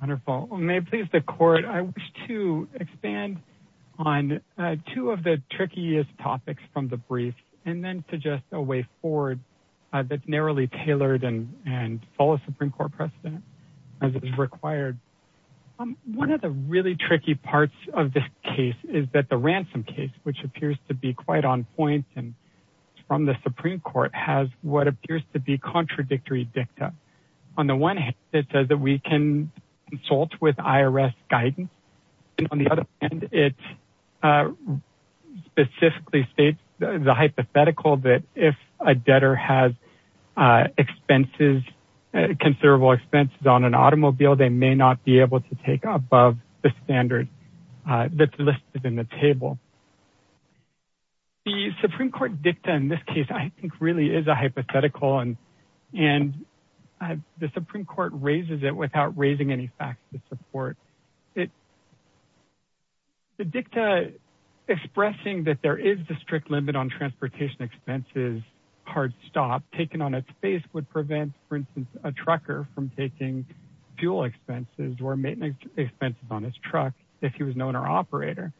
Wonderful. May it please the court, I wish to expand on two of the trickiest topics from the brief and then suggest a way forward that's narrowly tailored and follows Supreme Court precedent as is required. One of the really tricky parts of this case is that the ransom case, which appears to be quite on point and from the Supreme Court, has what appears to be contradictory dicta. On the one hand, it says that we can consult with IRS guidance and on the other hand, it specifically states the hypothetical that if a debtor has expenses, considerable expenses, on an automobile, they may not be able to take above the standard that's listed in the table. The Supreme Court dicta in this case, I think, really is a hypothetical and the Supreme Court raises it without raising any facts to support it. The dicta expressing that there is a strict limit on transportation expenses, hard stop, taken on its face would prevent, for instance, a trucker from taking fuel expenses or maintenance expenses on his truck if he was an owner operator.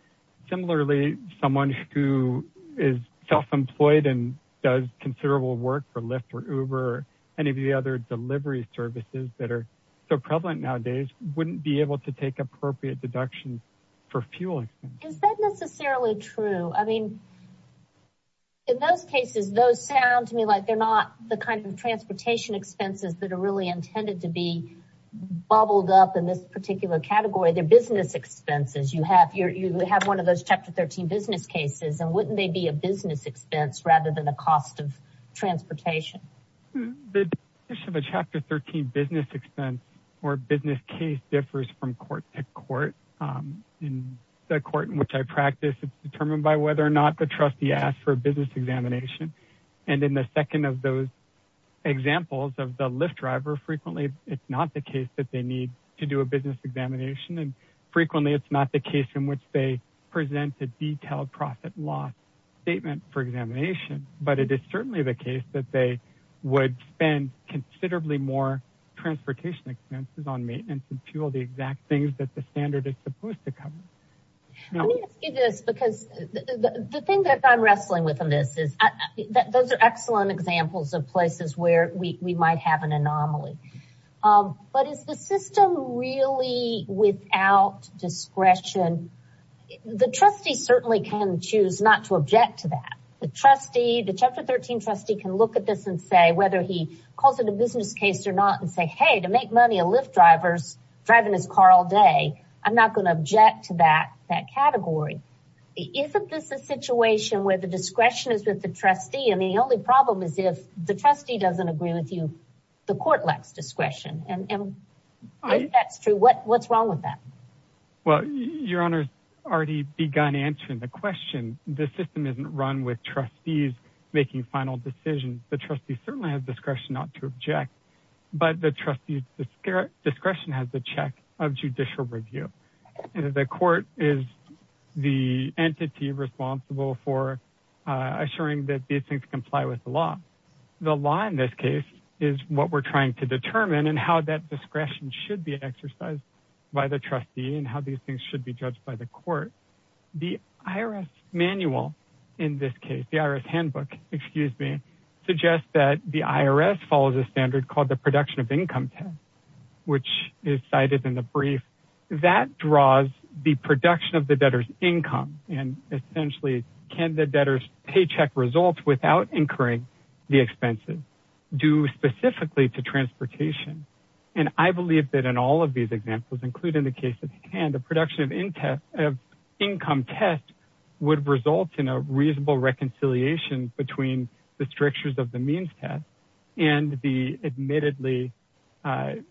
Similarly, someone who is self-employed and does considerable work for Lyft or Uber, any of the other delivery services that are so prevalent nowadays, wouldn't be able to take appropriate deductions for fuel. Is that necessarily true? I mean, in those cases, those sound to me like they're not the kind of bubbled up in this particular category. They're business expenses. You have one of those Chapter 13 business cases and wouldn't they be a business expense rather than a cost of transportation? The chapter 13 business expense or business case differs from court to court. In the court in which I practice, it's determined by whether or not the trustee asked for a business examination. In the second of those examples of the Lyft driver, frequently, it's not the case that they need to do a business examination. Frequently, it's not the case in which they present a detailed profit loss statement for examination, but it is certainly the case that they would spend considerably more transportation expenses on maintenance and fuel, the exact things that the standard is supposed to cover. Let me ask you this because the thing that I'm wrestling with in this is that those are excellent examples of places where we might have an anomaly. But is the system really without discretion? The trustee certainly can choose not to object to that. The trustee, the Chapter 13 trustee can look at this and say whether he calls it a business case or not and say, hey, to make money, a Lyft driver's driving his car all day. I'm not going to object to that category. Isn't this a situation where the discretion is with the trustee? And the only problem is if the trustee doesn't agree with you, the court lacks discretion. And if that's true, what's wrong with that? Well, your honor's already begun answering the question. The system isn't run with trustees making final decisions. The trustee certainly has discretion not to object, but the trustee's discretion has the check of judicial review. The court is the entity responsible for assuring that these things comply with the law. The law in this case is what we're trying to determine and how that discretion should be exercised by the trustee and how these things should be judged by the court. The IRS manual in this case, the IRS handbook, excuse me, suggests that the IRS follows a standard called the production of income test, which is cited in the brief. That draws the production of the debtor's income and essentially can the debtor's paycheck results without incurring the expenses due specifically to transportation. And I believe that in all of these examples, including the case of hand, the production of income test would result in a reasonable reconciliation between the strictures of the means test and the admittedly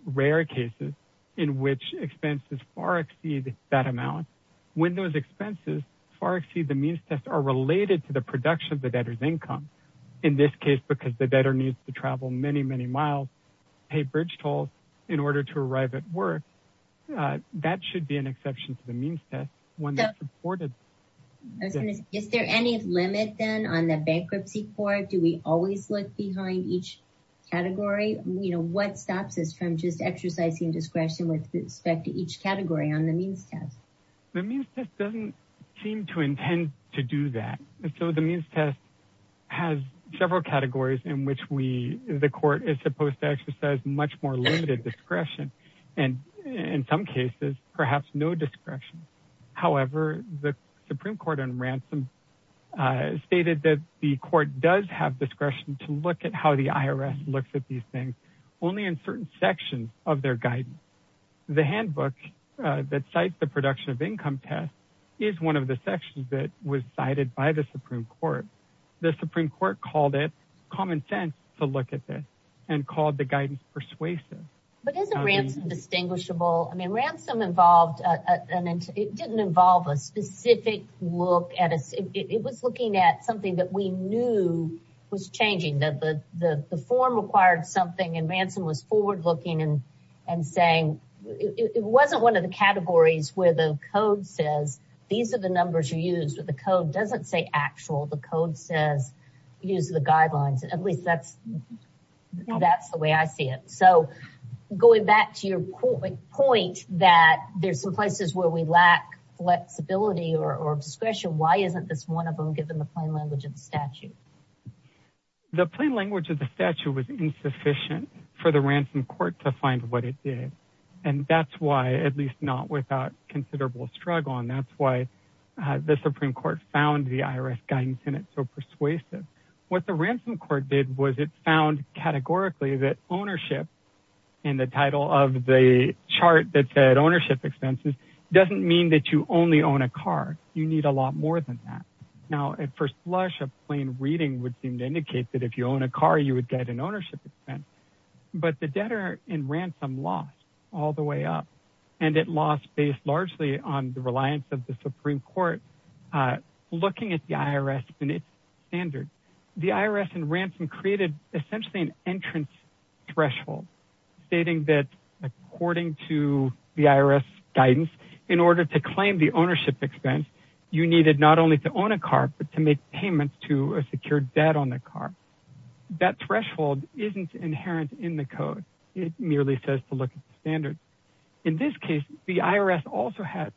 rare cases in which expenses far exceed that amount. When those expenses far exceed the means test are related to the production of the debtor's income. In this case, because the debtor needs to travel many, many miles, pay bridge tolls in order to arrive at work. That should be an exception to the means test. Is there any limit then on the bankruptcy court? Do we always look behind each category? What stops us from just exercising discretion with respect to each category on the means test? The means test doesn't seem to intend to do that. So the means test has several categories in which the court is supposed to exercise much more limited discretion. And in some cases, perhaps no discretion. However, the Supreme Court on ransom stated that the court does have discretion to look at how the IRS looks at these things only in certain sections of their guidance. The handbook that cites the production of income test is one of the sections that was cited by the Supreme Court. The Supreme Court called it common sense to look at this and called the guidance persuasive. But isn't ransom distinguishable? I mean, ransom involved, and it didn't involve a specific look at us. It was looking at something that we knew was changing. The form required something and ransom was forward looking and saying it wasn't one of the categories where the code says these are the numbers you use. The code doesn't say actual. The code says use the guidelines. At least that's the way I see it. So going back to your point that there's some places where we lack flexibility or discretion. Why isn't this one of them given the plain language of the statute? The plain language of the statute was insufficient for the ransom court to find what it did. And that's why, at least not without considerable struggle, and that's why the Supreme Court found the IRS guidance in it so persuasive. What the ransom court did was it found categorically that ownership in the title of the chart that said ownership expenses doesn't mean that you only own a car. You need a lot more than that. Now, at first blush, a plain reading would seem to indicate that if you own a car, you would get an ownership expense. But the debtor in ransom lost all the way up, and it lost based largely on the reliance of the Supreme Court looking at the IRS and its standards. The IRS in ransom created essentially an entrance threshold, stating that according to the IRS guidance, in order to claim the ownership expense, you needed not only to own a car, but to make payments to a secured debt on the car. That threshold isn't inherent in the code. It merely says to look at the standard. In this case, the IRS also has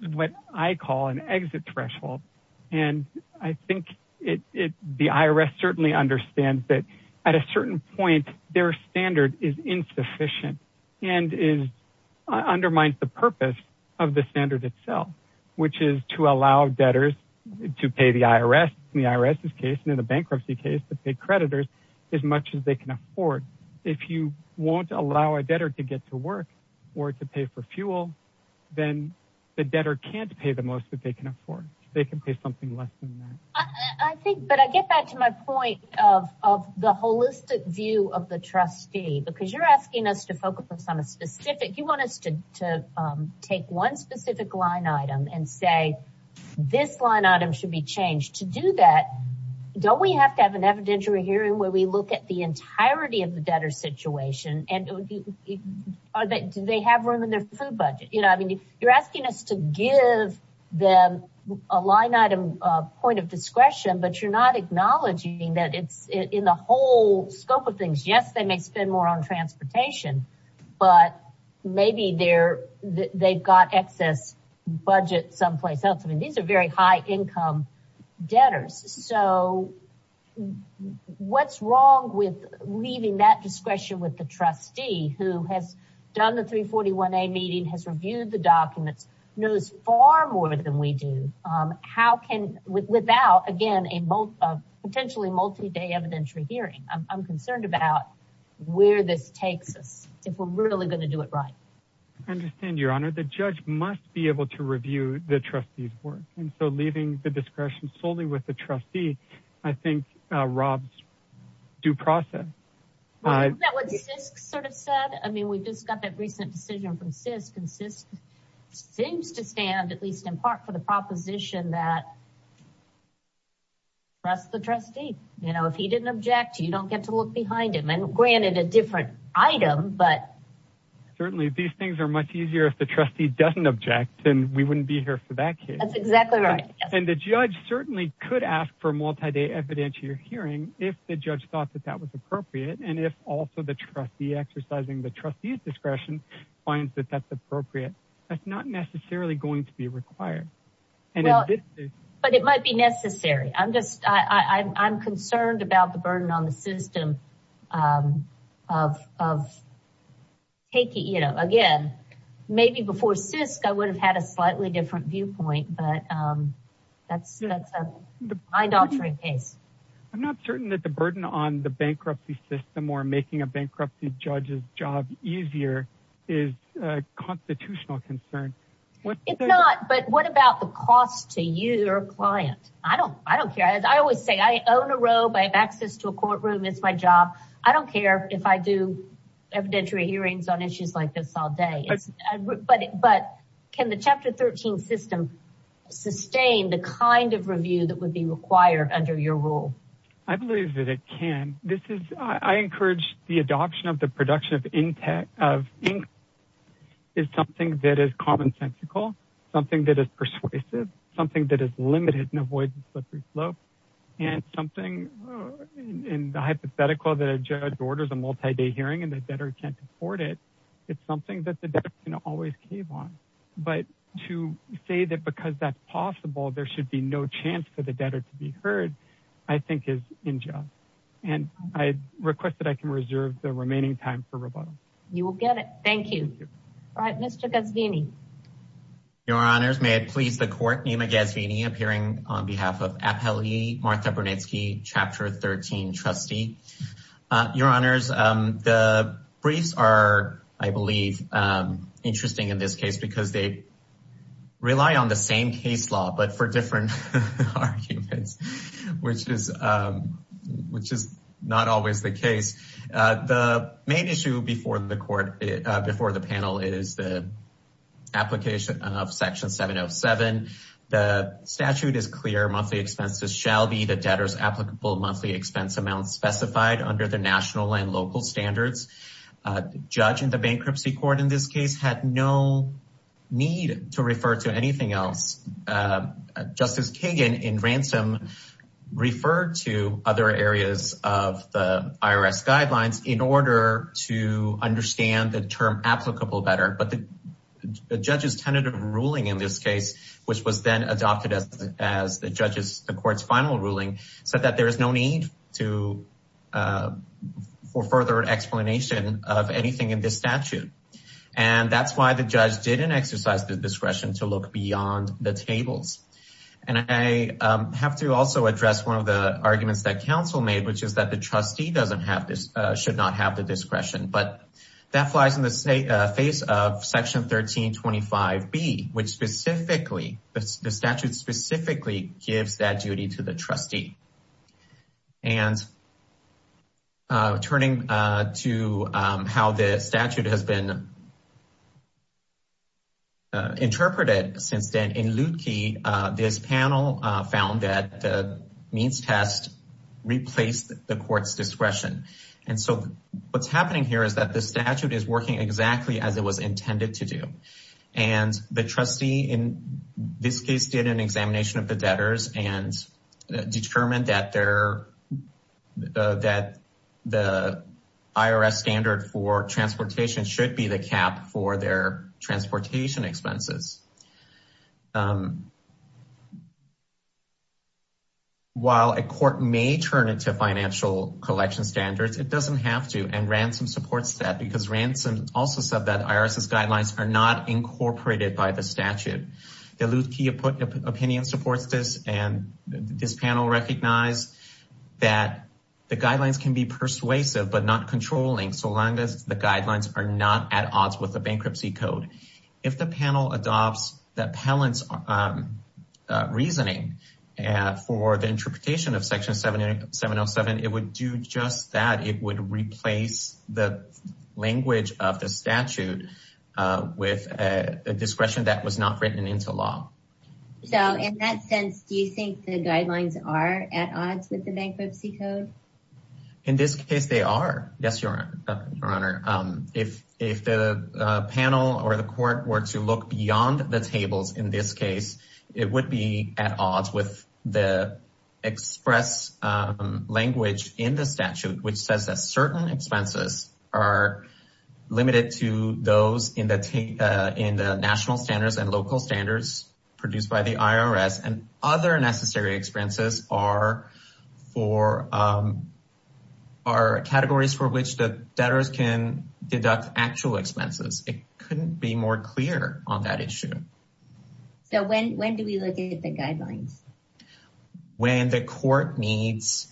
what I call an exit threshold. And I think the IRS certainly understands that at a certain point, their standard is insufficient and undermines the purpose of the standard itself, which is to allow debtors to pay the IRS, in the IRS's case and in the bankruptcy case, to pay creditors as much as can afford. If you won't allow a debtor to get to work or to pay for fuel, then the debtor can't pay the most that they can afford. They can pay something less than that. I think, but I get back to my point of the holistic view of the trustee, because you're asking us to focus on a specific, you want us to take one specific line item and say, this line item should be changed. To do that, don't we have to have an evidentiary hearing where we look at the entirety of the debtor situation? Do they have room in their food budget? You're asking us to give them a line item, a point of discretion, but you're not acknowledging that it's in the whole scope of things. Yes, they may spend more on transportation, but maybe they've got excess budget someplace else. I mean, very high income debtors. So what's wrong with leaving that discretion with the trustee who has done the 341A meeting, has reviewed the documents, knows far more than we do. How can, without, again, a potentially multi-day evidentiary hearing. I'm concerned about where this takes us, if we're really going to do it right. I understand your honor, the judge must be able to review the trustee's work. And so leaving the discretion solely with the trustee, I think Rob's due process. Is that what CISC sort of said? I mean, we just got that recent decision from CISC, and CISC seems to stand, at least in part, for the proposition that trust the trustee. You know, if he didn't object, you don't get to look behind him. And granted, a different item, but. Certainly, these things are much easier if the trustee doesn't object, then we wouldn't be here for that case. That's exactly right. And the judge certainly could ask for multi-day evidentiary hearing if the judge thought that that was appropriate. And if also the trustee exercising the trustee's discretion finds that that's appropriate, that's not necessarily going to be required. But it might be necessary. I'm just, I'm concerned about the burden on the taking, you know, again, maybe before CISC, I would have had a slightly different viewpoint, but that's a mind-altering case. I'm not certain that the burden on the bankruptcy system or making a bankruptcy judge's job easier is a constitutional concern. It's not, but what about the cost to you, your client? I don't, I don't care. As I always say, I own a robe, I have access to a courtroom. It's my job. I don't care if I do evidentiary hearings on issues like this all day. But can the Chapter 13 system sustain the kind of review that would be required under your rule? I believe that it can. This is, I encourage the adoption of the production of in-depth, of ink is something that is commonsensical, something that is persuasive, something that is limited and avoids a slippery slope and something in the hypothetical that a judge orders a multi-day hearing and the debtor can't afford it. It's something that the debtor can always cave on. But to say that because that's possible, there should be no chance for the debtor to be heard, I think is unjust. And I request that I can reserve the remaining time for rebuttal. You will get it. Thank you. All right, Mr. Gasvini. Your Honors, may it please the Court, Nima Gasvini appearing on behalf of Appellee Martha Brunetsky, Chapter 13 trustee. Your Honors, the briefs are, I believe, interesting in this case because they rely on the same case law, but for different arguments, which is not always the case. The main issue before the panel is the application of Section 707. The statute is clear, monthly expenses shall be the debtor's applicable monthly expense amounts specified under the national and local standards. The judge in the bankruptcy court in this case had no need to refer to anything else. Justice Kagan in ransom referred to other areas of the IRS guidelines in order to understand the term applicable better. But the judge's tentative ruling in this case, which was then adopted as the court's final ruling, said that there is no need for further explanation of anything in this statute. And that's why the judge didn't exercise the discretion to look beyond the tables. And I have to also address one of the should not have the discretion, but that flies in the face of Section 1325B, which specifically, the statute specifically gives that duty to the trustee. And turning to how the statute has been interpreted since then, in Lutke, this panel found that the means test replaced the court's and so what's happening here is that the statute is working exactly as it was intended to do. And the trustee in this case did an examination of the debtors and determined that their that the IRS standard for transportation should be the cap for their transportation expenses. While a court may turn it to financial collection standards, it doesn't have to, and Ransom supports that because Ransom also said that IRS's guidelines are not incorporated by the statute. The Lutke opinion supports this, and this panel recognized that the guidelines can be persuasive, but not controlling, so long as the guidelines are not at odds with the bankruptcy code. If the panel adopts the Ransom standard, that palates reasoning for the interpretation of Section 707, it would do just that. It would replace the language of the statute with a discretion that was not written into law. So in that sense, do you think the guidelines are at odds with the bankruptcy code? In this case, they are. Yes, Your Honor. If the panel or the court were to look beyond the tables in this case, it would be at odds with the express language in the statute, which says that certain expenses are limited to those in the national standards and local standards produced by the IRS, and other necessary expenses are categories for which the debtors can So when do we look at the guidelines? When the court needs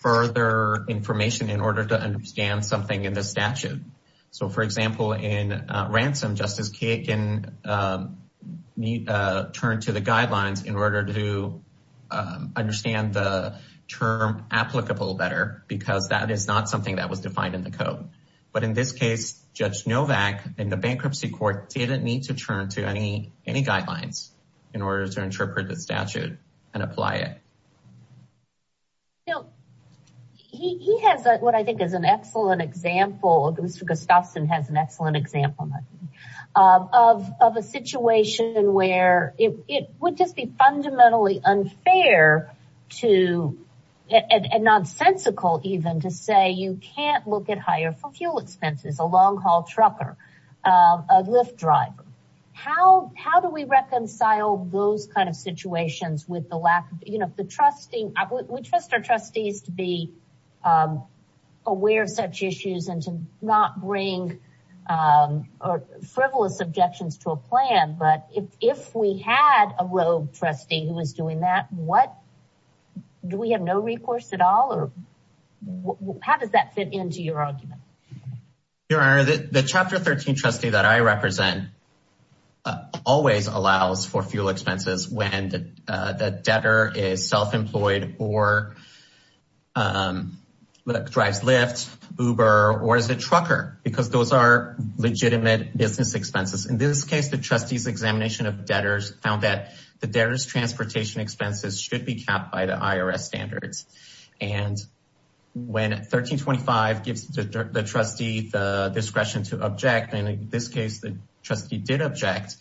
further information in order to understand something in the statute. So for example, in Ransom, Justice Kagan turned to the guidelines in order to understand the term applicable better because that is not something that was defined in the code. But in this case, Judge Novak in the bankruptcy court didn't need to turn to any guidelines in order to interpret the statute and apply it. Now, he has what I think is an excellent example, Mr. Gustafson has an excellent example of a situation where it would just be fundamentally unfair to, and nonsensical even, to say you can't look at hire for fuel expenses, a long haul trucker, a Lyft driver. How do we reconcile those kind of situations with the lack of, you know, the trustee, we trust our trustees to be aware of such issues and to not bring frivolous objections to a plan. But if we had a rogue trustee who was doing that, what, do we have no recourse at all or how does that fit into your argument? Your Honor, the chapter 13 trustee that I represent always allows for fuel expenses when the debtor is self-employed or drives Lyft, Uber, or is a trucker because those are legitimate business expenses. In this case, the trustee's examination of debtors found that the debtor's transportation expenses should be capped by the IRS standards. And when 1325 gives the trustee the discretion to object, and in this case the trustee did object,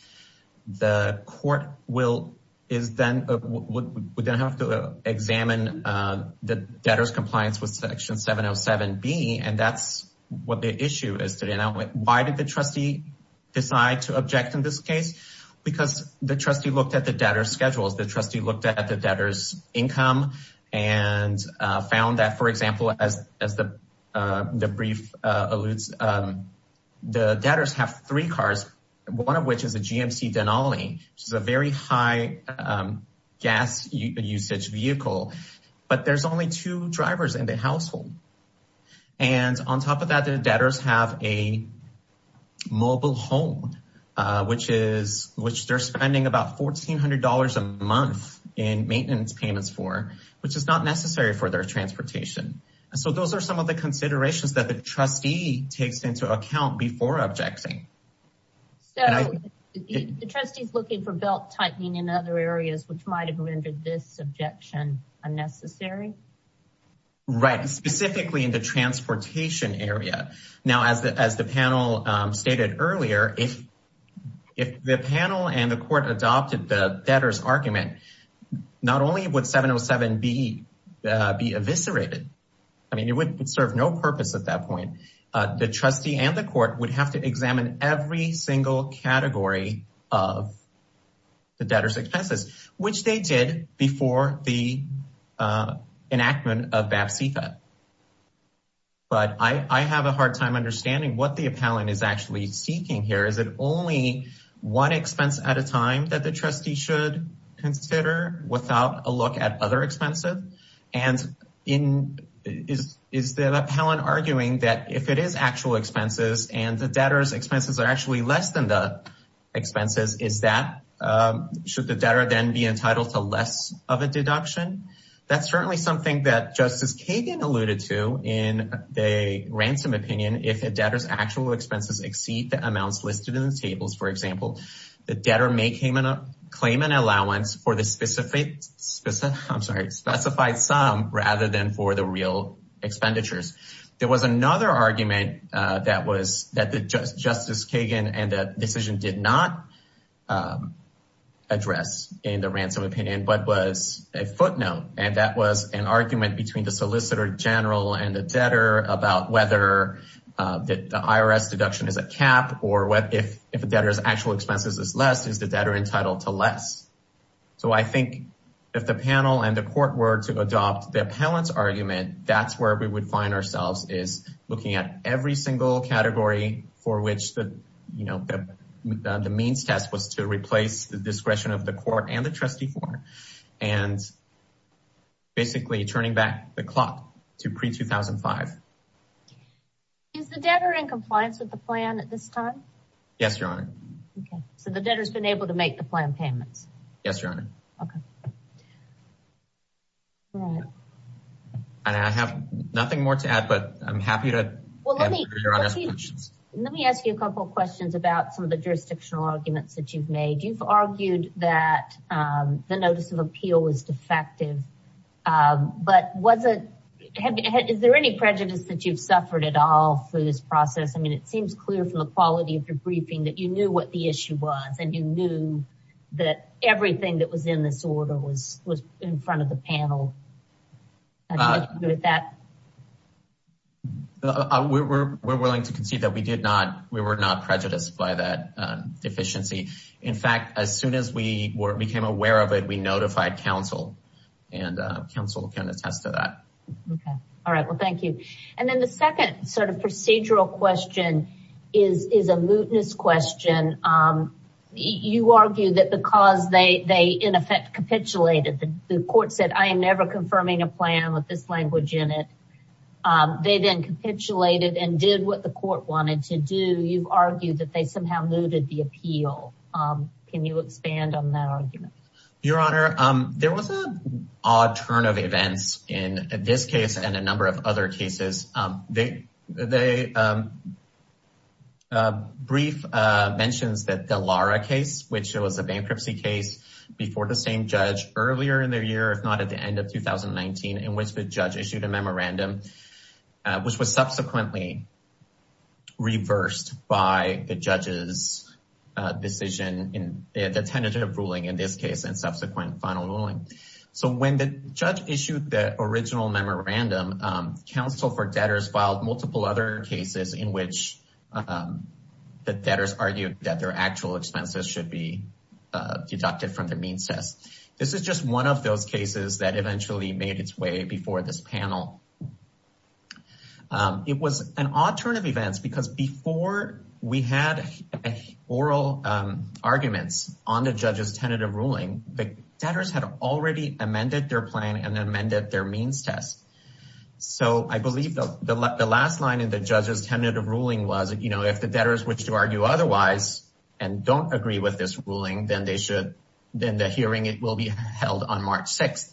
the court would then have to examine the debtor's compliance with because the trustee looked at the debtor's schedules, the trustee looked at the debtor's income, and found that, for example, as the brief alludes, the debtors have three cars, one of which is a GMC Denali, which is a very high gas usage vehicle, but there's only two which they're spending about $1,400 a month in maintenance payments for, which is not necessary for their transportation. So those are some of the considerations that the trustee takes into account before objecting. So the trustee is looking for belt tightening in other areas which might have rendered this objection unnecessary? Right, specifically in the panel and the court adopted the debtor's argument, not only would 707 be eviscerated, I mean it would serve no purpose at that point, the trustee and the court would have to examine every single category of the debtor's expenses, which they did before the enactment of BAPCFA. But I have a hard time understanding what the appellant is actually seeking here. Is it only one expense at a time that the trustee should consider without a look at other expenses? And is the appellant arguing that if it is actual expenses and the debtor's expenses are actually less than the expenses, should the debtor then be entitled to less of a deduction? That's certainly something that Justice Kagan alluded to in the ransom opinion, if a debtor's actual expenses exceed the amounts listed in the tables, for example, the debtor may claim an allowance for the specified sum rather than for the real expenditures. There was another argument that Justice Kagan and the decision did not address in the ransom opinion, but was a footnote, and that was an argument between the solicitor general and the debtor about whether the IRS deduction is a cap or if a debtor's actual expenses is less, is the debtor entitled to less? So I think if the panel and the court were to adopt the appellant's argument, that's where we would find ourselves is looking at every single category for which the means test was to replace the discretion of the court and the trustee for, and basically turning back the clock to pre-2005. Is the debtor in compliance with the plan at this time? Yes, Your Honor. Okay, so the debtor's been able to make the plan payments? Yes, Your Honor. Okay. And I have nothing more to add, but I'm happy to answer Your Honor's questions. Let me ask you a couple of questions about some of the jurisdictional arguments that you've made. You've argued that the notice of appeal was defective, but is there any prejudice that you've suffered at all through this process? I mean, it seems clear from the quality of your briefing that you knew what the issue was, and you knew that everything that was in this order was in front of the panel. We're willing to concede that we were not prejudiced by that deficiency. In fact, as soon as we became aware of it, we notified counsel, and counsel can attest to that. Okay. All right. Well, thank you. And then the second sort of procedural question is a mootness question. You argue that because they in effect capitulated, the court said, I am never confirming a plan with this language in it. They then capitulated and did what the court wanted to do. You've argued that they somehow mooted the appeal. Can you expand on that argument? Your Honor, there was an odd turn of events in this case and a number of other cases. The brief mentions that the Lara case, which was a bankruptcy case before the same judge earlier in the year, if not at the end of 2019, in which the judge issued a memorandum, which was subsequently reversed by the judge's decision in the tentative ruling in this case and subsequent final ruling. So when the judge issued the original memorandum, counsel for debtors filed multiple other cases in which the debtors argued that their actual expenses should be deducted from their means test. This is just one of those cases that eventually made its way before this panel. It was an odd turn of events because before we had oral arguments on the judge's tentative ruling, the debtors had already amended their plan and amended their means test. So I believe the last line in the judge's tentative ruling was, you know, if the debtors wish to argue otherwise and don't agree with this ruling, then the hearing will be held on March 6th.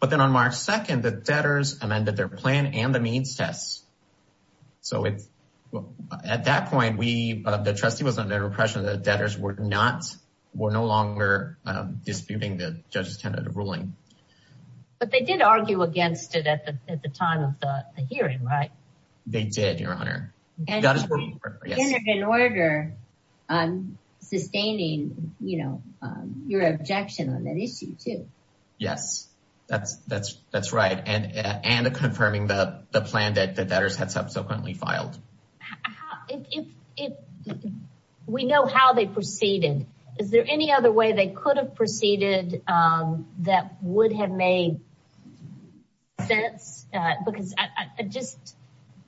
But then on March 2nd, the debtors amended their plan and the means test. So at that point, the trustee was under the impression that debtors were no longer disputing the judge's tentative ruling. But they did argue against it at the time of the hearing, right? They did, your honor. And in order on sustaining, you know, your objection on that issue too. Yes, that's right. And confirming the plan that the debtors had subsequently filed. If we know how they proceeded, is there any other way they could have proceeded that would have made sense? Because I just,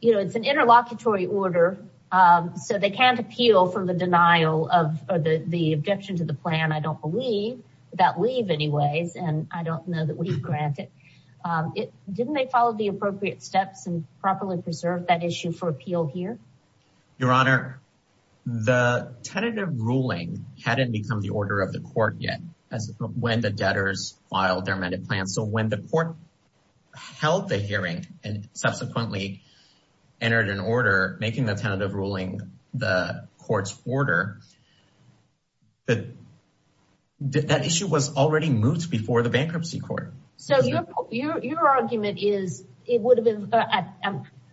you know, it's an interlocutory order. So they can't appeal for the denial of the objection to the plan, I don't believe, without leave anyways. And I don't know that we've granted it. Didn't they follow the appropriate steps and properly preserve that issue for appeal here? Your honor, the tentative ruling hadn't become the order of the court yet as when the debtors filed their amended plan. So when the court held the hearing and subsequently entered an order, making the tentative ruling the court's order, that issue was already moved before the bankruptcy court. So your argument is it would have been,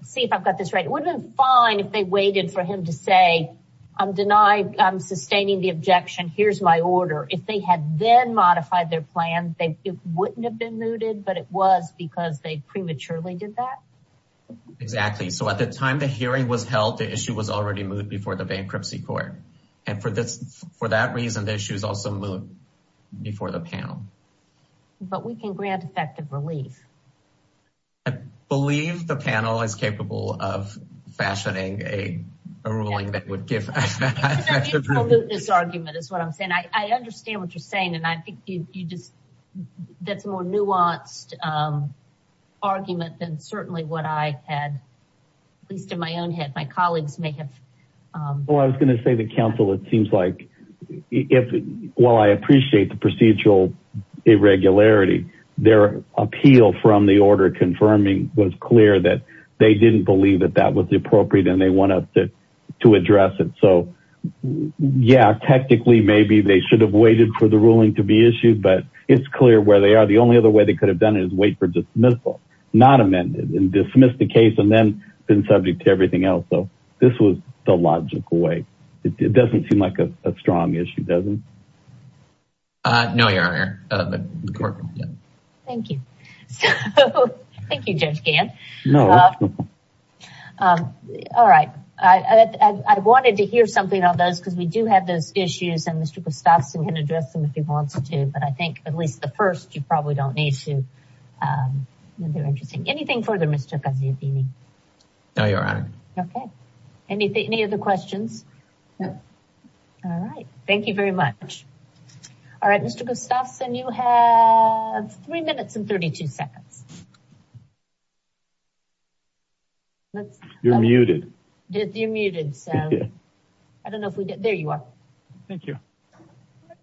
see if I've got this right, it would have been fine if they waited for him to say, I'm denied, I'm sustaining the objection, here's my order. If they had then modified their plan, it wouldn't have been mooted, but it was because they prematurely did that? Exactly. So at the time the hearing was held, the issue was already moved before the bankruptcy court. And for that reason, the issue is also moved before the panel. But we can grant effective leave. I believe the panel is capable of fashioning a ruling that would give argument is what I'm saying. I understand what you're saying. And I think you just, that's more nuanced argument than certainly what I had, at least in my own head, my colleagues may have. Well, I was going to say the counsel, it seems like if, while I appreciate the procedural irregularity, their appeal from the order confirming was clear that they didn't believe that that was the appropriate and they want us to, to address it. So yeah, technically, maybe they should have waited for the ruling to be issued, but it's clear where they are. The only other way they could have done it is wait for dismissal, not amended and dismiss the case and then been subject to everything else. So this was the logical way. It doesn't seem like a courtroom. Thank you. Thank you, Judge Gantt. All right. I wanted to hear something on those because we do have those issues and Mr. Gustafson can address them if he wants to, but I think at least the first, you probably don't need to. They're interesting. Anything further, Mr. Gaziantini? No, Your Honor. Okay. Any other questions? No. All right. Thank you very much. All right. Mr. Gustafson, you have three minutes and 32 seconds. You're muted. You're muted. I don't know if we get, there you are. Thank you.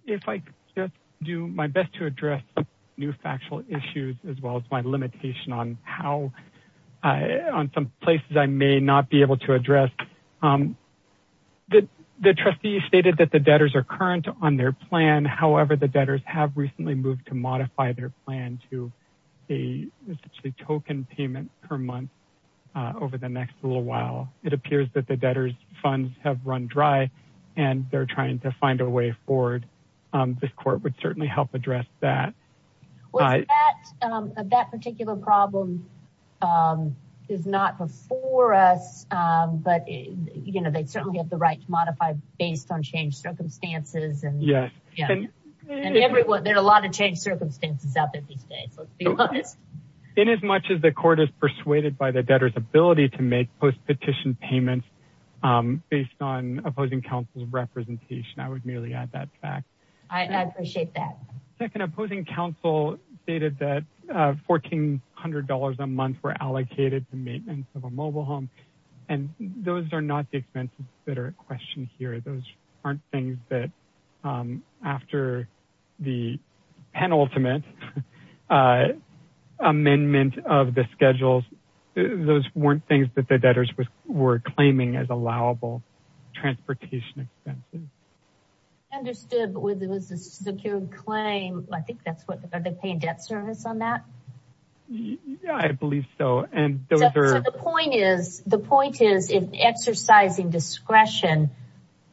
If I just do my best to address new factual issues as well as my limitation on how, on some places I may not be able to address. The trustee stated that the recently moved to modify their plan to a token payment per month over the next little while. It appears that the debtor's funds have run dry and they're trying to find a way forward. This court would certainly help address that. That particular problem is not before us, but they certainly have the right to modify based on changed circumstances. There are a lot of changed circumstances out there these days. Let's be honest. In as much as the court is persuaded by the debtor's ability to make post-petition payments based on opposing counsel's representation, I would merely add that fact. I appreciate that. Second, opposing counsel stated that $1,400 a month were allocated to maintenance of a mobile home. And those are not the expenses that are at question here. Those aren't things that after the penultimate amendment of the schedules, those weren't things that the debtors were claiming as allowable transportation expenses. Understood, but was it a secured claim? I think that's what, are they paying debt service on that? Yeah, I believe so. The point is in exercising discretion,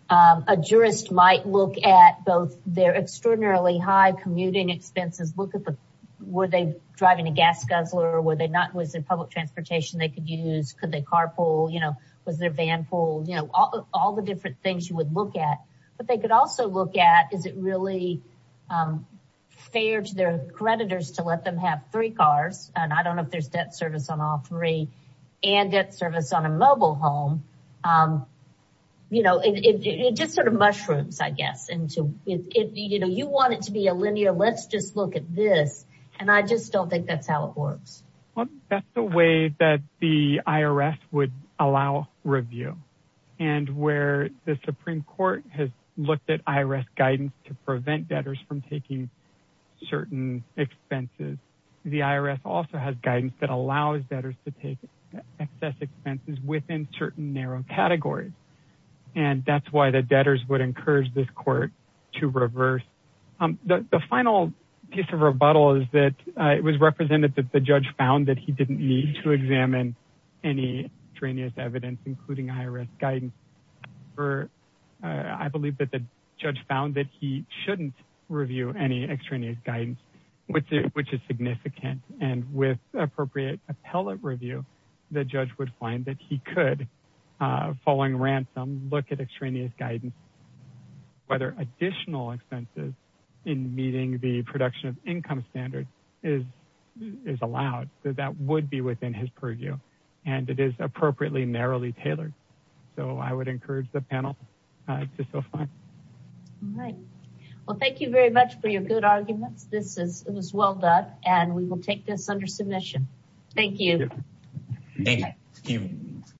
a jurist might look at both their extraordinarily commuting expenses. Were they driving a gas guzzler? Was there public transportation they could use? Could they carpool? Was there vanpool? All the different things you would look at. But they could also look at, is it really fair to their creditors to let them have three cars, and I don't know if there's debt service on all three, and debt service on a mobile home. It just sort of mushrooms, I guess. You want it to be a linear, let's just look at this, and I just don't think that's how it works. Well, that's the way that the IRS would allow review. And where the Supreme Court has looked at IRS guidance to prevent debtors from taking certain expenses, the IRS also has guidance that allows debtors to take excess expenses within certain narrow categories. And that's why the debtors would encourage this court to reverse. The final piece of rebuttal is that it was represented that the judge found that he didn't need to examine any extraneous evidence, including IRS guidance. I believe that the judge found that he shouldn't review any extraneous guidance, which is significant. And with appropriate appellate review, the judge would find that he could, following ransom, look at extraneous guidance, whether additional expenses in meeting the production of income standard is allowed. So that would be within his purview. And it is appropriately, narrowly tailored. So I would encourage the panel to self-find. All right. Well, thank you very much for your good arguments. This is, it was well done. And we will take this under submission. Thank you. Thank you.